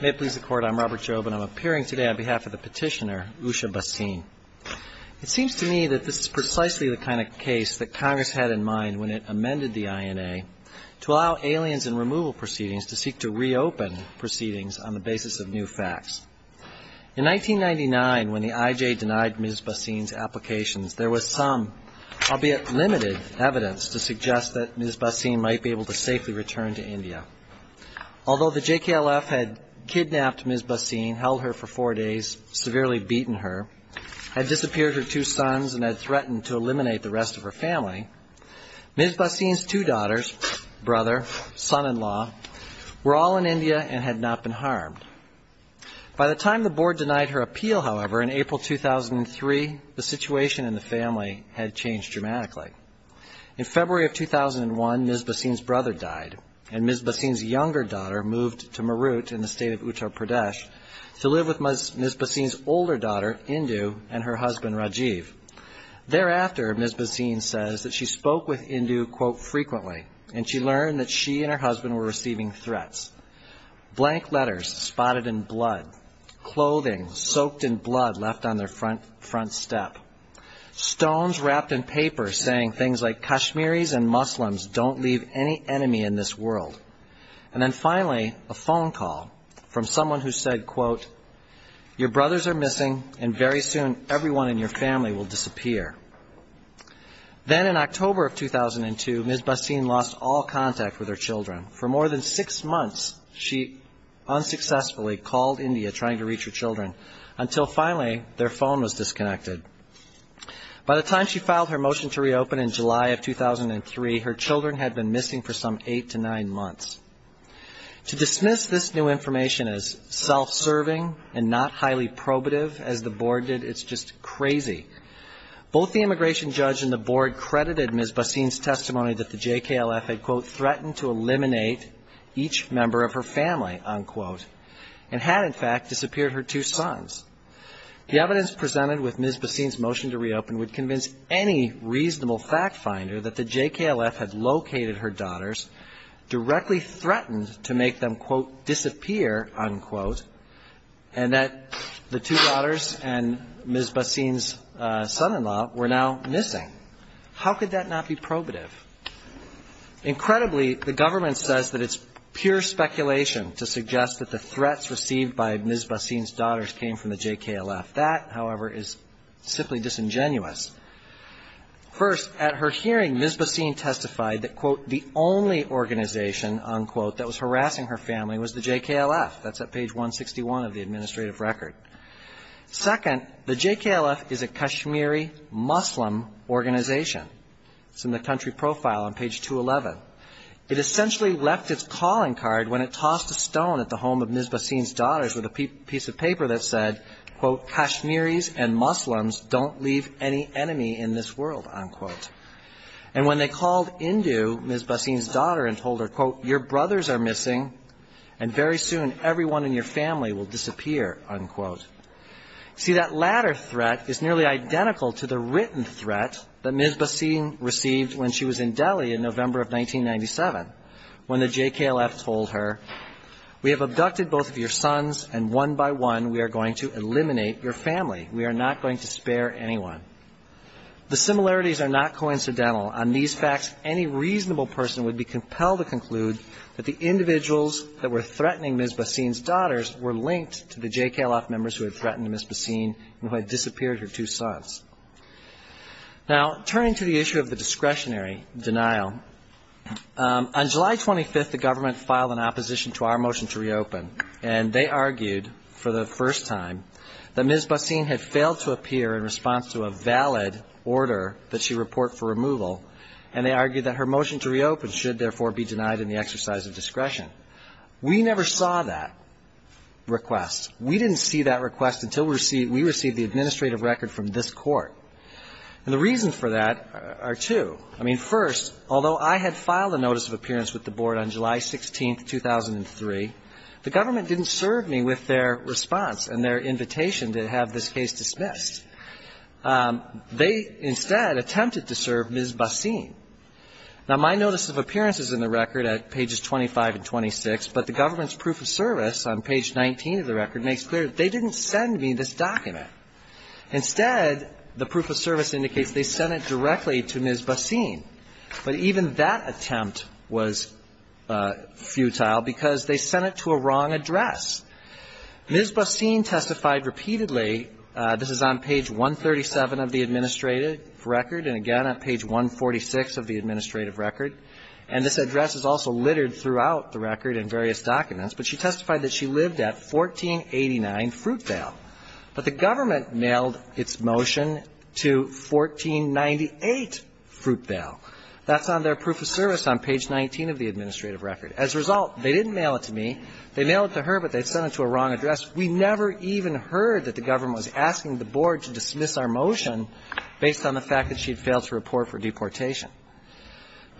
May it please the Court, I am Robert Job and I am appearing today on behalf of the petitioner Usha Bhasin. It seems to me that this is precisely the kind of case that Congress had in mind when it amended the INA to allow aliens and removal proceedings to seek to reopen proceedings on the basis of new facts. In 1999, when the IJ denied Ms. Bhasin's applications, there was some, albeit limited, evidence to suggest that Ms. Bhasin might be able to safely return to India. Although the JKLF had kidnapped Ms. Bhasin, held her for four days, severely beaten her, had disappeared her two sons, and had threatened to eliminate the rest of her family, Ms. Bhasin's two daughters, brother, son-in-law, were all in India and had not been harmed. By the time the Board denied her appeal, however, in April 2003, the situation in the family had changed dramatically. In February of 2001, Ms. Bhasin's brother died and Ms. Bhasin's younger daughter moved to Marut in the state of Uttar Pradesh to live with Ms. Bhasin's older daughter, Indu, and her husband, Rajiv. Thereafter, Ms. Bhasin says that she spoke with Indu, quote, frequently and she learned that she and her husband were receiving threats. Blank letters spotted in blood, clothing soaked in blood left on their front step. Stones wrapped in paper saying things like Kashmiris and Muslims don't leave any enemy in this world. And then finally, a phone call from someone who said, quote, your brothers are missing and very soon everyone in your family will disappear. Then in October of 2002, Ms. Bhasin lost all contact with her children. For more than six months, she unsuccessfully called India trying to reach her children until finally their phone was disconnected. By the time she filed her motion to reopen in July of 2003, her children had been missing for some eight to nine months. To dismiss this new information as self-serving and not highly probative as the Board did, it's just crazy. Both the immigration judge and the Board credited Ms. Bhasin's testimony that the JKLF had, quote, threatened to eliminate each member of her family, unquote, and had, in fact, disappeared her two sons. The evidence presented with Ms. Bhasin's motion to reopen would convince any reasonable fact finder that the JKLF had located her daughters, directly threatened to make them, quote, disappear, unquote, and that the two daughters and Ms. Bhasin's son-in-law were now missing. How could that not be probative? Incredibly, the government says that it's pure speculation to suggest that the threats received by Ms. Bhasin's daughters came from the JKLF. That, however, is simply disingenuous. First, at her hearing, Ms. Bhasin testified that, quote, the only organization, unquote, that was harassing her family was the JKLF. That's at page 161 of the administrative record. Second, the JKLF is a Kashmiri Muslim organization. It's in the country profile on page 211. It essentially left its calling card when it tossed a stone at the home of Ms. Bhasin's daughters with a piece of paper that said, quote, Kashmiris and Muslims don't leave any enemy in this world, unquote. And when they called into Ms. Bhasin's daughter and told her, quote, your brothers are missing, and very soon everyone in your family will disappear, unquote. See, that latter threat is nearly identical to the written threat that Ms. Bhasin received when she was in Delhi in November of 1997, when the JKLF told her, we have abducted both of your sons, and one by one we are going to eliminate your family. We are not going to spare anyone. The similarities are not coincidental. On these facts, any reasonable person would be compelled to conclude that the individuals that were threatening Ms. Bhasin's daughters were linked to the JKLF members who had threatened Ms. Bhasin and who had disappeared her two sons. Now turning to the issue of the discretionary denial, on July 25th the government filed an opposition to our motion to reopen, and they argued for the first time that Ms. Bhasin had failed to appear in response to a valid order that she report for removal, and they argued that her motion to reopen should therefore be denied in the exercise of discretion. We never saw that request. We didn't see that request until we received the administrative record from this Court. And the reasons for that are two. I mean, first, although I had filed a notice of appearance with the Board on July 16th, 2003, the government didn't serve me with their response and their invitation to have this case dismissed. They instead attempted to serve Ms. Bhasin. Now my notice of appearance is in the record at pages 25 and 26, but the government's proof of service on page 19 of the record makes clear that they didn't send me this document. Instead, the proof of service indicates they sent it directly to Ms. Bhasin. But even that attempt was futile because they sent it to a wrong address. Ms. Bhasin testified repeatedly. This is on page 137 of the administrative record, and this address is also littered throughout the record in various documents, but she testified that she lived at 1489 Fruitvale. But the government mailed its motion to 1498 Fruitvale. That's on their proof of service on page 19 of the administrative record. As a result, they didn't mail it to me. They mailed it to her, but they sent it to a wrong address. We never even heard that the government was asking the Board to dismiss our motion based on the fact that she had failed to report for deportation.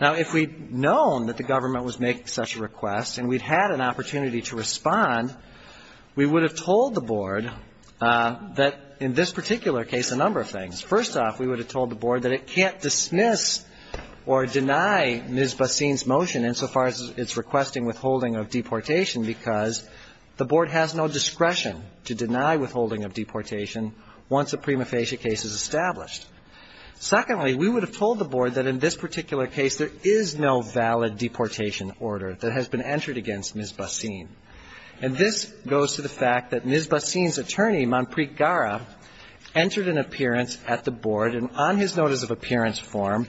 Now, if we'd known that the government was making such a request and we'd had an opportunity to respond, we would have told the Board that, in this particular case, a number of things. First off, we would have told the Board that it can't dismiss or deny Ms. Bhasin's motion insofar as it's requesting withholding of deportation because the Board has no discretion to deny withholding of deportation once a prima facie case is established. Secondly, we would have told the Board that, in this particular case, there is no valid deportation order that has been entered against Ms. Bhasin. And this goes to the fact that Ms. Bhasin's attorney, Manpreet Gara, entered an appearance at the Board, and on his notice of appearance form,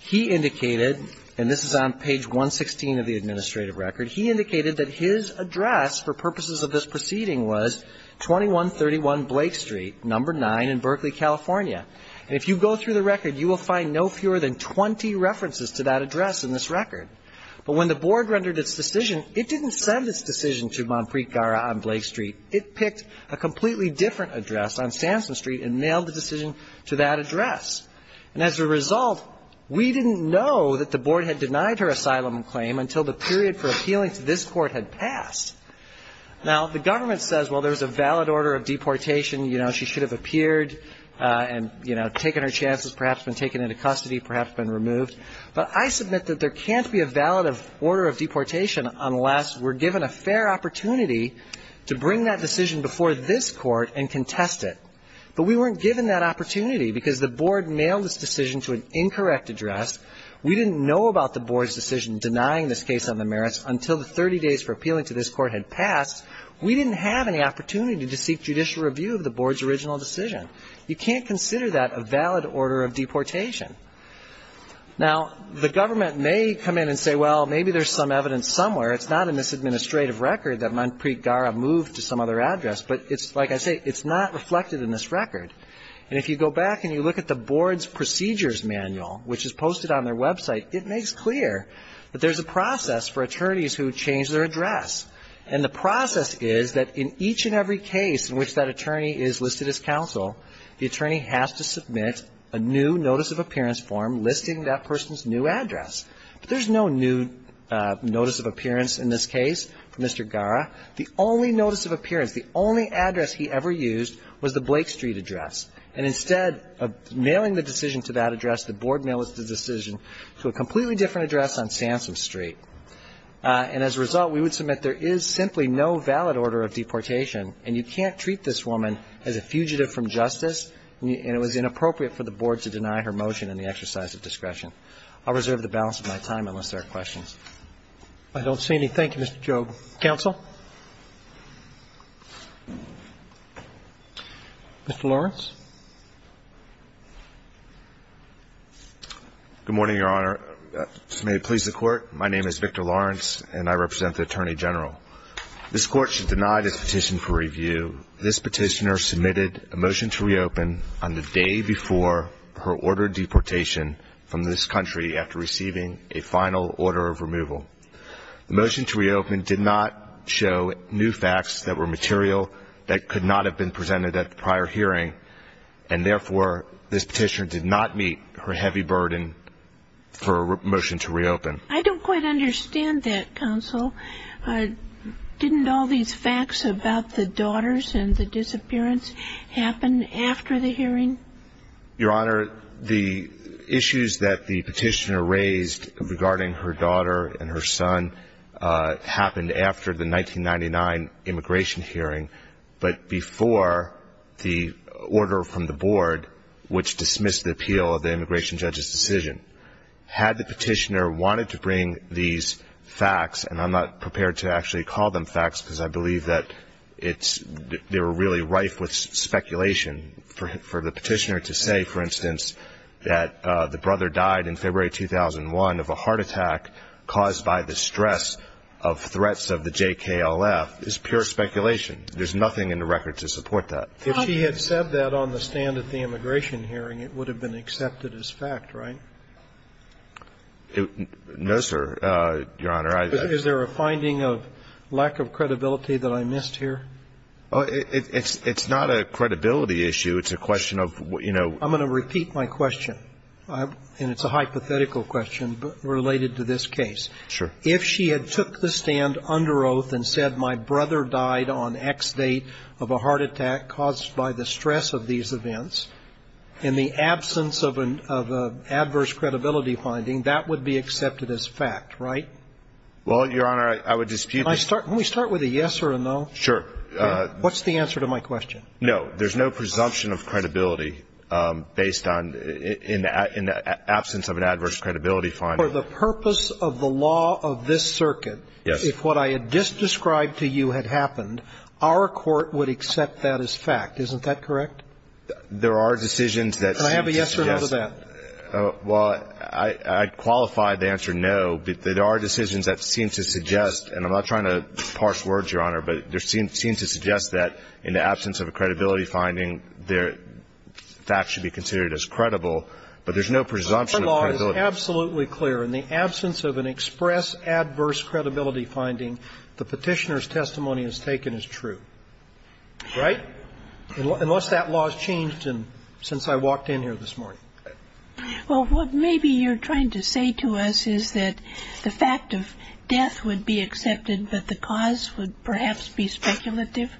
he indicated, and this is on page 116 of the administrative record, he indicated that his address for purposes of this proceeding was 2131 Blake Street, number 9 in Berkeley, California. And if you go through the record, you will find no fewer than 20 references to that address in this record. But when the Board rendered its decision, it didn't send its decision to Manpreet Gara on Blake Street. It picked a completely different address on Samson Street and mailed the decision to that address. And as a result, we didn't know that the Board had denied her asylum claim until the period for appealing to this Court had passed. Now, the government says, well, there's a valid order of deportation, you know, she should have appeared and, you know, taken her chances, perhaps been taken into custody, perhaps been removed. But I submit that there can't be a valid order of deportation unless we're given a fair opportunity to bring that decision before this Court and contest it. But we weren't given that opportunity because the Board mailed its decision to an incorrect address. We didn't know about the Board's decision denying this case on the merits until the 30 days for appealing to this Court had passed. We didn't have any opportunity to You can't consider that a valid order of deportation. Now, the government may come in and say, well, maybe there's some evidence somewhere. It's not in this administrative record that Manpreet Gara moved to some other address. But it's, like I say, it's not reflected in this record. And if you go back and you look at the Board's procedures manual, which is posted on their website, it makes clear that there's a process for attorneys who change their address. And the process is that in each and every case in which that attorney is listed as counsel, the attorney has to submit a new Notice of Appearance form listing that person's new address. But there's no new Notice of Appearance in this case for Mr. Gara. The only Notice of Appearance, the only address he ever used was the Blake Street address. And instead of mailing the decision to that address, the Board mailed the decision to a completely different address on Sansom Street. And as a result, we would submit there is simply no valid order of deportation. And you can't treat this woman as a fugitive from justice. And it was inappropriate for the Board to deny her motion in the exercise of discretion. I'll reserve the balance of my time unless there are questions. I don't see any. Thank you, Mr. Jobe. Counsel? Mr. Lawrence? Good morning, Your Honor. May it please the Court, my name is Victor Lawrence and I represent the Attorney General. This Court should deny this petition for review. This petitioner submitted a motion to reopen on the day before her order of deportation from this country after receiving a final order of removal. The motion to reopen did not show new facts that were material that could not have been presented at the prior hearing. And therefore, this petitioner did not meet her heavy burden for a motion to reopen. I don't quite understand that, Counsel. Didn't all these facts about the daughters and the disappearance happen after the hearing? Your Honor, the issues that the petitioner raised regarding her daughter and her son happened after the 1999 immigration hearing, but before the order from the Board, which dismissed the appeal of the immigration judge's decision. Had the petitioner wanted to bring these facts, and I'm not prepared to actually call them facts because I believe that they were really rife with speculation, for the petitioner to say, for instance, that the of threats of the J.K.L.F. is pure speculation. There's nothing in the record to support that. If she had said that on the stand at the immigration hearing, it would have been accepted as fact, right? No, sir, Your Honor. Is there a finding of lack of credibility that I missed here? It's not a credibility issue. It's a question of, you know – I'm going to repeat my question, and it's a hypothetical question related to this case. If she had took the stand under oath and said, my brother died on X date of a heart attack caused by the stress of these events, in the absence of an adverse credibility finding, that would be accepted as fact, right? Well, Your Honor, I would dispute – Can we start with a yes or a no? Sure. What's the answer to my question? No, there's no presumption of credibility based on – in the absence of an adverse credibility finding. For the purpose of the law of this circuit, if what I had just described to you had happened, our court would accept that as fact. Isn't that correct? There are decisions that seem to suggest – Can I have a yes or a no to that? Well, I'd qualify the answer no, but there are decisions that seem to suggest – and I'm not trying to parse words, Your Honor – but there seem to suggest that in the absence of a credibility finding, facts should be considered as credible, but there's no presumption of credibility. The law is absolutely clear. In the absence of an express adverse credibility finding, the Petitioner's testimony is taken as true, right? Unless that law's changed since I walked in here this morning. Well, what maybe you're trying to say to us is that the fact of death would be accepted, but the cause would perhaps be speculative?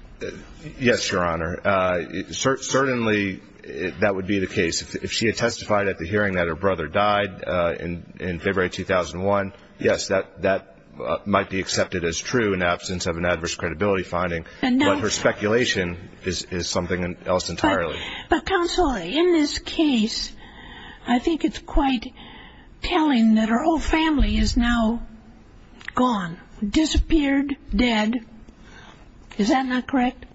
Yes, Your Honor. Certainly, that would be the case. If she had testified at the hearing that her brother died in February 2001, yes, that might be accepted as true in the absence of an adverse credibility finding, but her speculation is something else entirely. But, counsel, in this case, I think it's quite telling that her whole family is now gone, disappeared, dead. Is that not correct?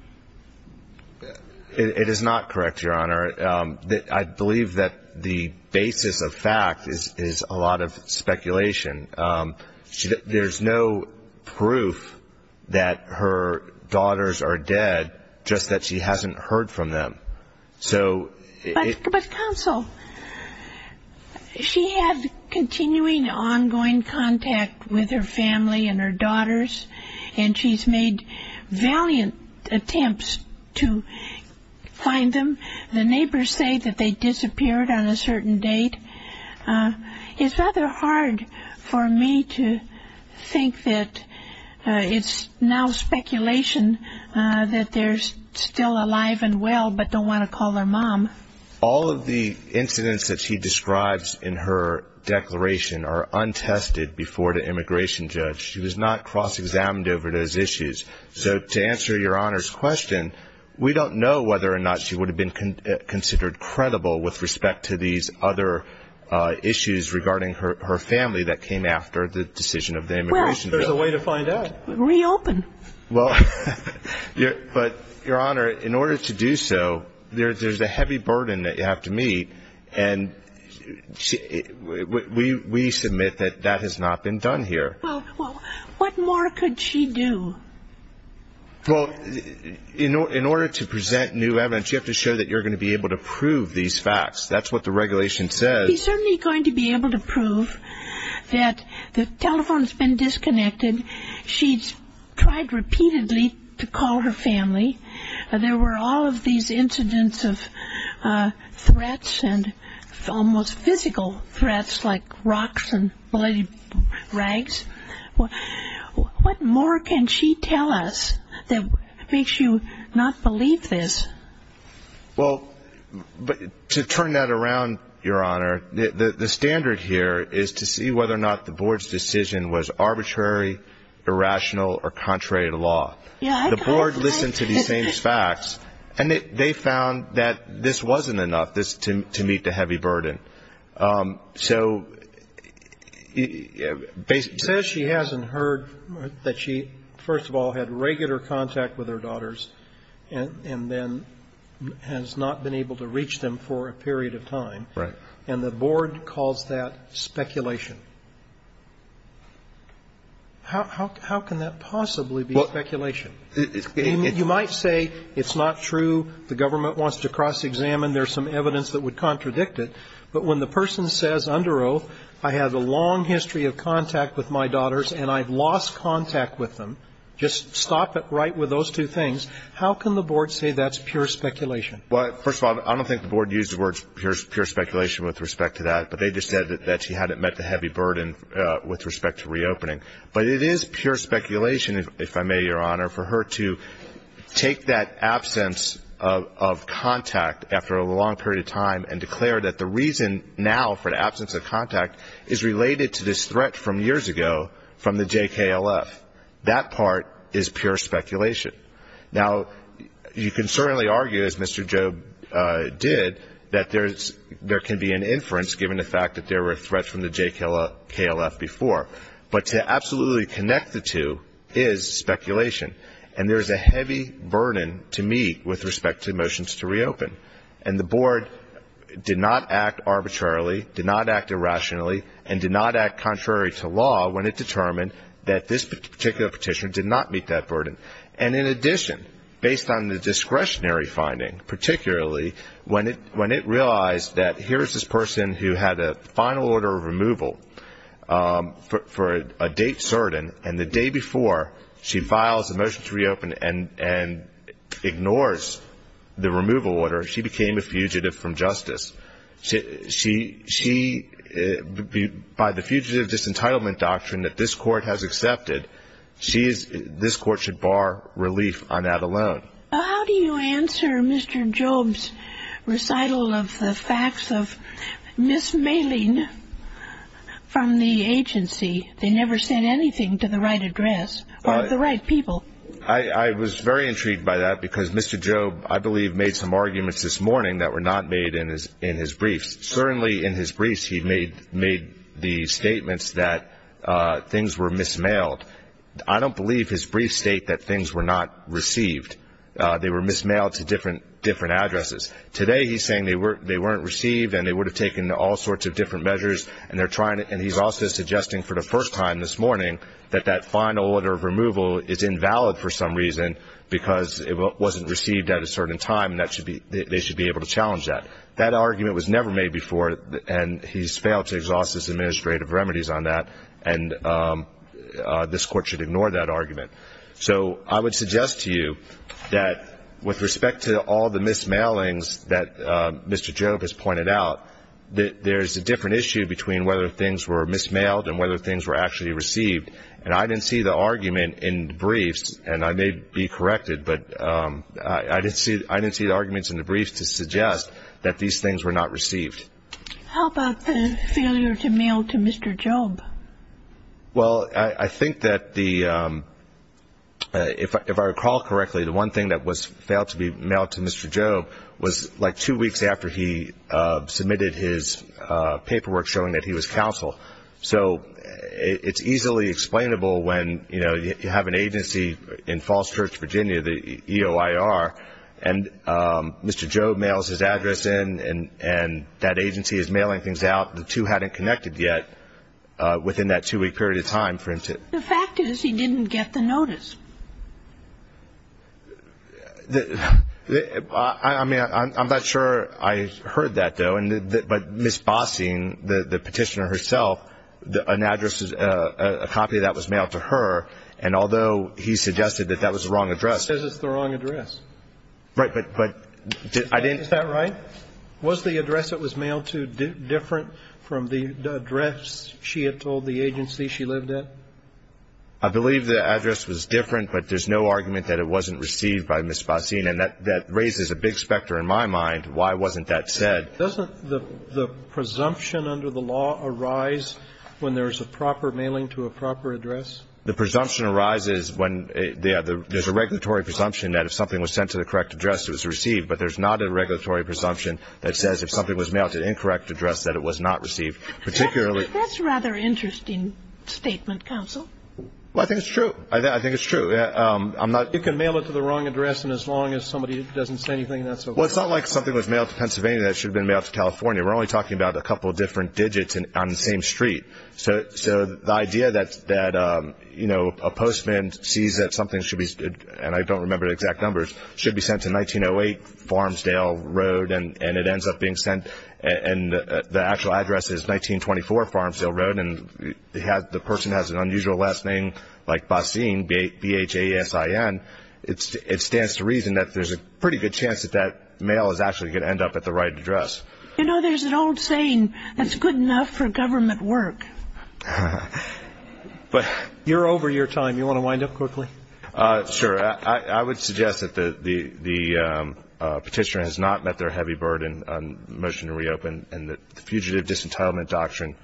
It is not correct, Your Honor. I believe that the basis of fact is a lot of speculation. There's no proof that her daughters are dead, just that she hasn't heard from them. But, counsel, she has continuing, ongoing contact with her family and her daughters, and she's made valiant attempts to find them. The neighbors say that they disappeared on a certain date. It's rather hard for me to think that it's now speculation that they're still alive and well, but don't want to call their mom. All of the incidents that she describes in her declaration are untested before the immigration judge. She was not cross-examined over those issues. So to answer Your Honor's question, we don't know whether or not she would have been considered credible with respect to these other issues regarding her family that came after the decision of the immigration judge. Well, there's a way to find out. Reopen. Well, but, Your Honor, in order to do so, there's a heavy burden that you have to meet, and we submit that that has not been done here. Well, what more could she do? Well, in order to present new evidence, you have to show that you're going to be able to prove these facts. That's what the regulation says. She's certainly going to be able to prove that the telephone's been disconnected. She's tried repeatedly to call her family. There were all of these incidents of threats and almost physical threats, like rocks and bloody rags. What more can she tell us that makes you not believe this? Well, to turn that around, Your Honor, the standard here is to see whether or not the Board's decision was arbitrary, irrational, or contrary to law. Yeah, I kind of like this. The Board listened to these same facts, and they found that this wasn't enough to meet the heavy burden. So, basically the case is that she hasn't heard that she, first of all, had regular contact with her daughters and then has not been able to reach them for a period of time, and the Board calls that speculation. How can that possibly be speculation? You might say it's not true, the government wants to cross-examine, there's some evidence that would contradict it, but when the person says, under oath, I have a long history of contact with my daughters and I've lost contact with them, just stop it right with those two things, how can the Board say that's pure speculation? Well, first of all, I don't think the Board used the words pure speculation with respect to that, but they just said that she hadn't met the heavy burden with respect to reopening. But it is pure speculation, if I may, Your Honor, for her to take that absence of contact after a long period of time and declare that the reason now for the absence of contact is related to this threat from years ago from the JKLF, that part is pure speculation. Now, you can certainly argue, as Mr. Jobe did, that there can be an inference given the fact that there were threats from the JKLF before, but to absolutely connect the two is speculation. And there's a heavy burden to meet with respect to motions to reopen. And the Board did not act arbitrarily, did not act irrationally, and did not act contrary to law when it determined that this particular petitioner did not meet that burden. And in addition, based on the discretionary finding, particularly when it realized that here's this person who had a final order of removal for a date certain, and the day before she files a motion to reopen and ignores the removal order, she became a fugitive from justice. By the fugitive disentitlement doctrine that this Court has accepted, this Court should bar relief on that alone. Well, how do you answer Mr. Jobe's recital of the facts of mismailing from the agency? They never sent anything to the right address or to the right people. I was very intrigued by that because Mr. Jobe, I believe, made some arguments this morning that were not made in his briefs. Certainly in his briefs, he made the statements that things were mismailed. I don't believe his briefs state that things were not received. They were mismailed to different addresses. Today, he's saying they weren't received and they would have taken all sorts of different measures, and he's also suggesting for the first time this morning that that final order of removal is invalid for some reason because it wasn't received at a certain time and they should be able to challenge that. That argument was never made before, and he's failed to exhaust his administrative remedies on that. And this Court should ignore that argument. So I would suggest to you that with respect to all the mismailings that Mr. Jobe has pointed out, that there's a different issue between whether things were mismailed and whether things were actually received. And I didn't see the argument in the briefs, and I may be corrected, but I didn't see the arguments in the briefs to suggest that these things were not received. How about the failure to mail to Mr. Jobe? Well, I think that the if I recall correctly, the one thing that was failed to be mailed to Mr. Jobe was like two weeks after he submitted his paperwork showing that he was counsel. So it's easily explainable when you have an agency in Falls Church, Virginia, the EOIR, and Mr. Jobe mails his address in and that agency is mailing things out. The two hadn't connected yet within that two-week period of time for him to. The fact is he didn't get the notice. I mean, I'm not sure I heard that, though. But Ms. Bossing, the Petitioner herself, an address, a copy of that was mailed to her. And although he suggested that that was the wrong address. He says it's the wrong address. Right. But I didn't. Is that right? Was the address it was mailed to different from the address she had told the agency she lived at? I believe the address was different, but there's no argument that it wasn't received by Ms. Bossing. And that raises a big specter in my mind. Why wasn't that said? Doesn't the presumption under the law arise when there's a proper mailing to a proper address? The presumption arises when there's a regulatory presumption that if something was sent to the correct address, it was received. But there's not a regulatory presumption that says if something was mailed to the incorrect address, that it was not received. That's a rather interesting statement, counsel. I think it's true. I think it's true. You can mail it to the wrong address and as long as somebody doesn't say anything, that's okay. Well, it's not like something was mailed to Pennsylvania that should have been mailed to California. We're only talking about a couple of different digits on the same street. So the idea that a postman sees that something should be, and I don't remember the exact numbers, should be sent to 1908 Farmsdale Road and it ends up being sent and the actual address is 1924 Farmsdale Road and the person has an unusual last name like Bossing, B-H-A-S-I-N. It stands to reason that there's a pretty good chance that that mail is actually going to end up at the right address. You know, there's an old saying, that's good enough for government work. But you're over your time. You want to wind up quickly? Sure. I would suggest that the petitioner has not met their heavy burden on the motion to reopen and the Fugitive Disentitlement Doctrine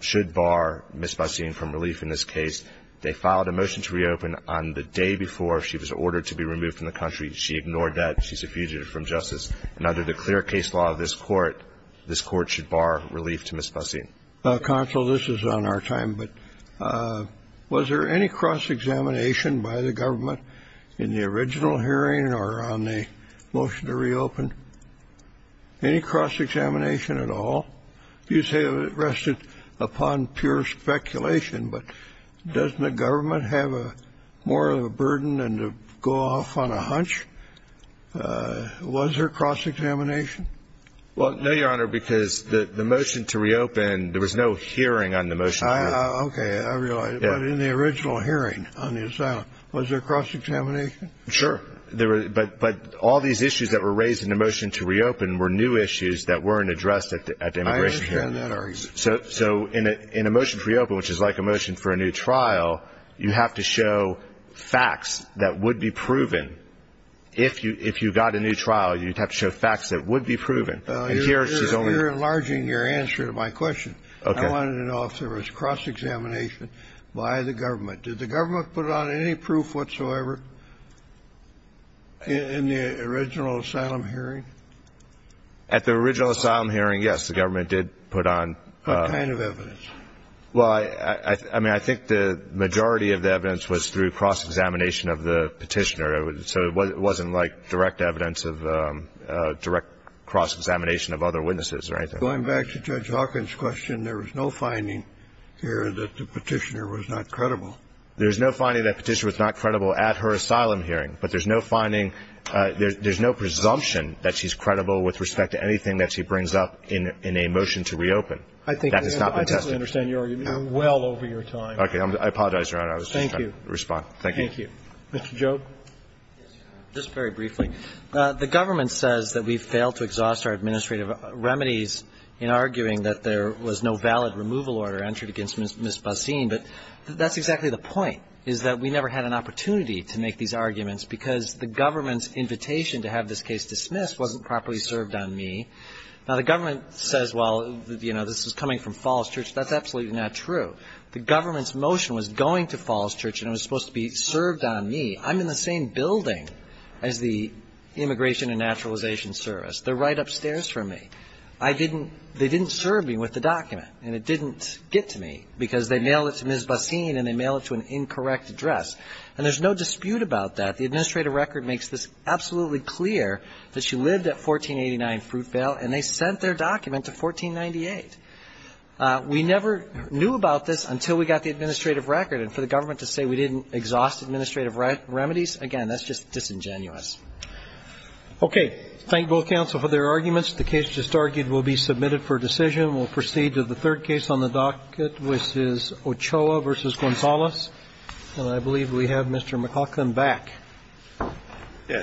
should bar Ms. Bossing from relief in this case. They filed a motion to reopen on the day before she was ordered to be removed from the country. She ignored that. She's a fugitive from justice. And under the clear case law of this court, this court should bar relief to Ms. Bossing. Counsel, this is on our time, but was there any cross-examination by the government in the original hearing or on the motion to reopen? Any cross-examination at all? You say it rested upon pure speculation, but doesn't the government have more of a burden than to go off on a hunch? Was there cross-examination? Well, no, Your Honor, because the motion to reopen, there was no hearing on the motion. Okay, I realize, but in the original hearing on the asylum, was there cross-examination? Sure, but all these issues that were raised in the motion to reopen were new issues that weren't addressed at the immigration hearing. I understand that argument. So in a motion to reopen, which is like a motion for a new trial, you have to show facts that would be proven. If you got a new trial, you'd have to show facts that would be proven. And here, she's only- You're enlarging your answer to my question. Okay. I wanted to know if there was cross-examination by the government. Did the government put on any proof whatsoever in the original asylum hearing? At the original asylum hearing, yes, the government did put on- What kind of evidence? Well, I mean, I think the majority of the evidence was through cross-examination of the petitioner. So it wasn't like direct evidence of direct cross-examination of other witnesses or anything. Going back to Judge Hawkins' question, there was no finding here that the petitioner was not credible. There's no finding that the petitioner was not credible at her asylum hearing, but there's no finding, there's no presumption that she's credible with respect to anything that she brings up in a motion to reopen. That has not been tested. I think I understand your argument well over your time. Okay. I apologize, Your Honor. I was just trying to respond. Thank you. Mr. Jobe. Just very briefly. The government says that we've failed to exhaust our administrative remedies in arguing that there was no valid removal order entered against Ms. Bazine. But that's exactly the point, is that we never had an opportunity to make these arguments because the government's invitation to have this case dismissed wasn't properly served on me. Now, the government says, well, you know, this is coming from Falls Church. That's absolutely not true. The government's motion was going to Falls Church and it was supposed to be served on me. I'm in the same building as the Immigration and Naturalization Service. They're right upstairs from me. I didn't, they didn't serve me with the document and it didn't get to me because they mail it to Ms. Bazine and they mail it to an incorrect address. And there's no dispute about that. The administrative record makes this absolutely clear that she lived at 1489 Fruitvale and they sent their document to 1498. We never knew about this until we got the administrative record. And for the government to say we didn't exhaust administrative remedies, again, that's just disingenuous. Okay. Thank both counsel for their arguments. The case just argued will be submitted for decision. We'll proceed to the third case on the docket, which is Ochoa versus Gonzalez. And I believe we have Mr. McLaughlin back. Yes.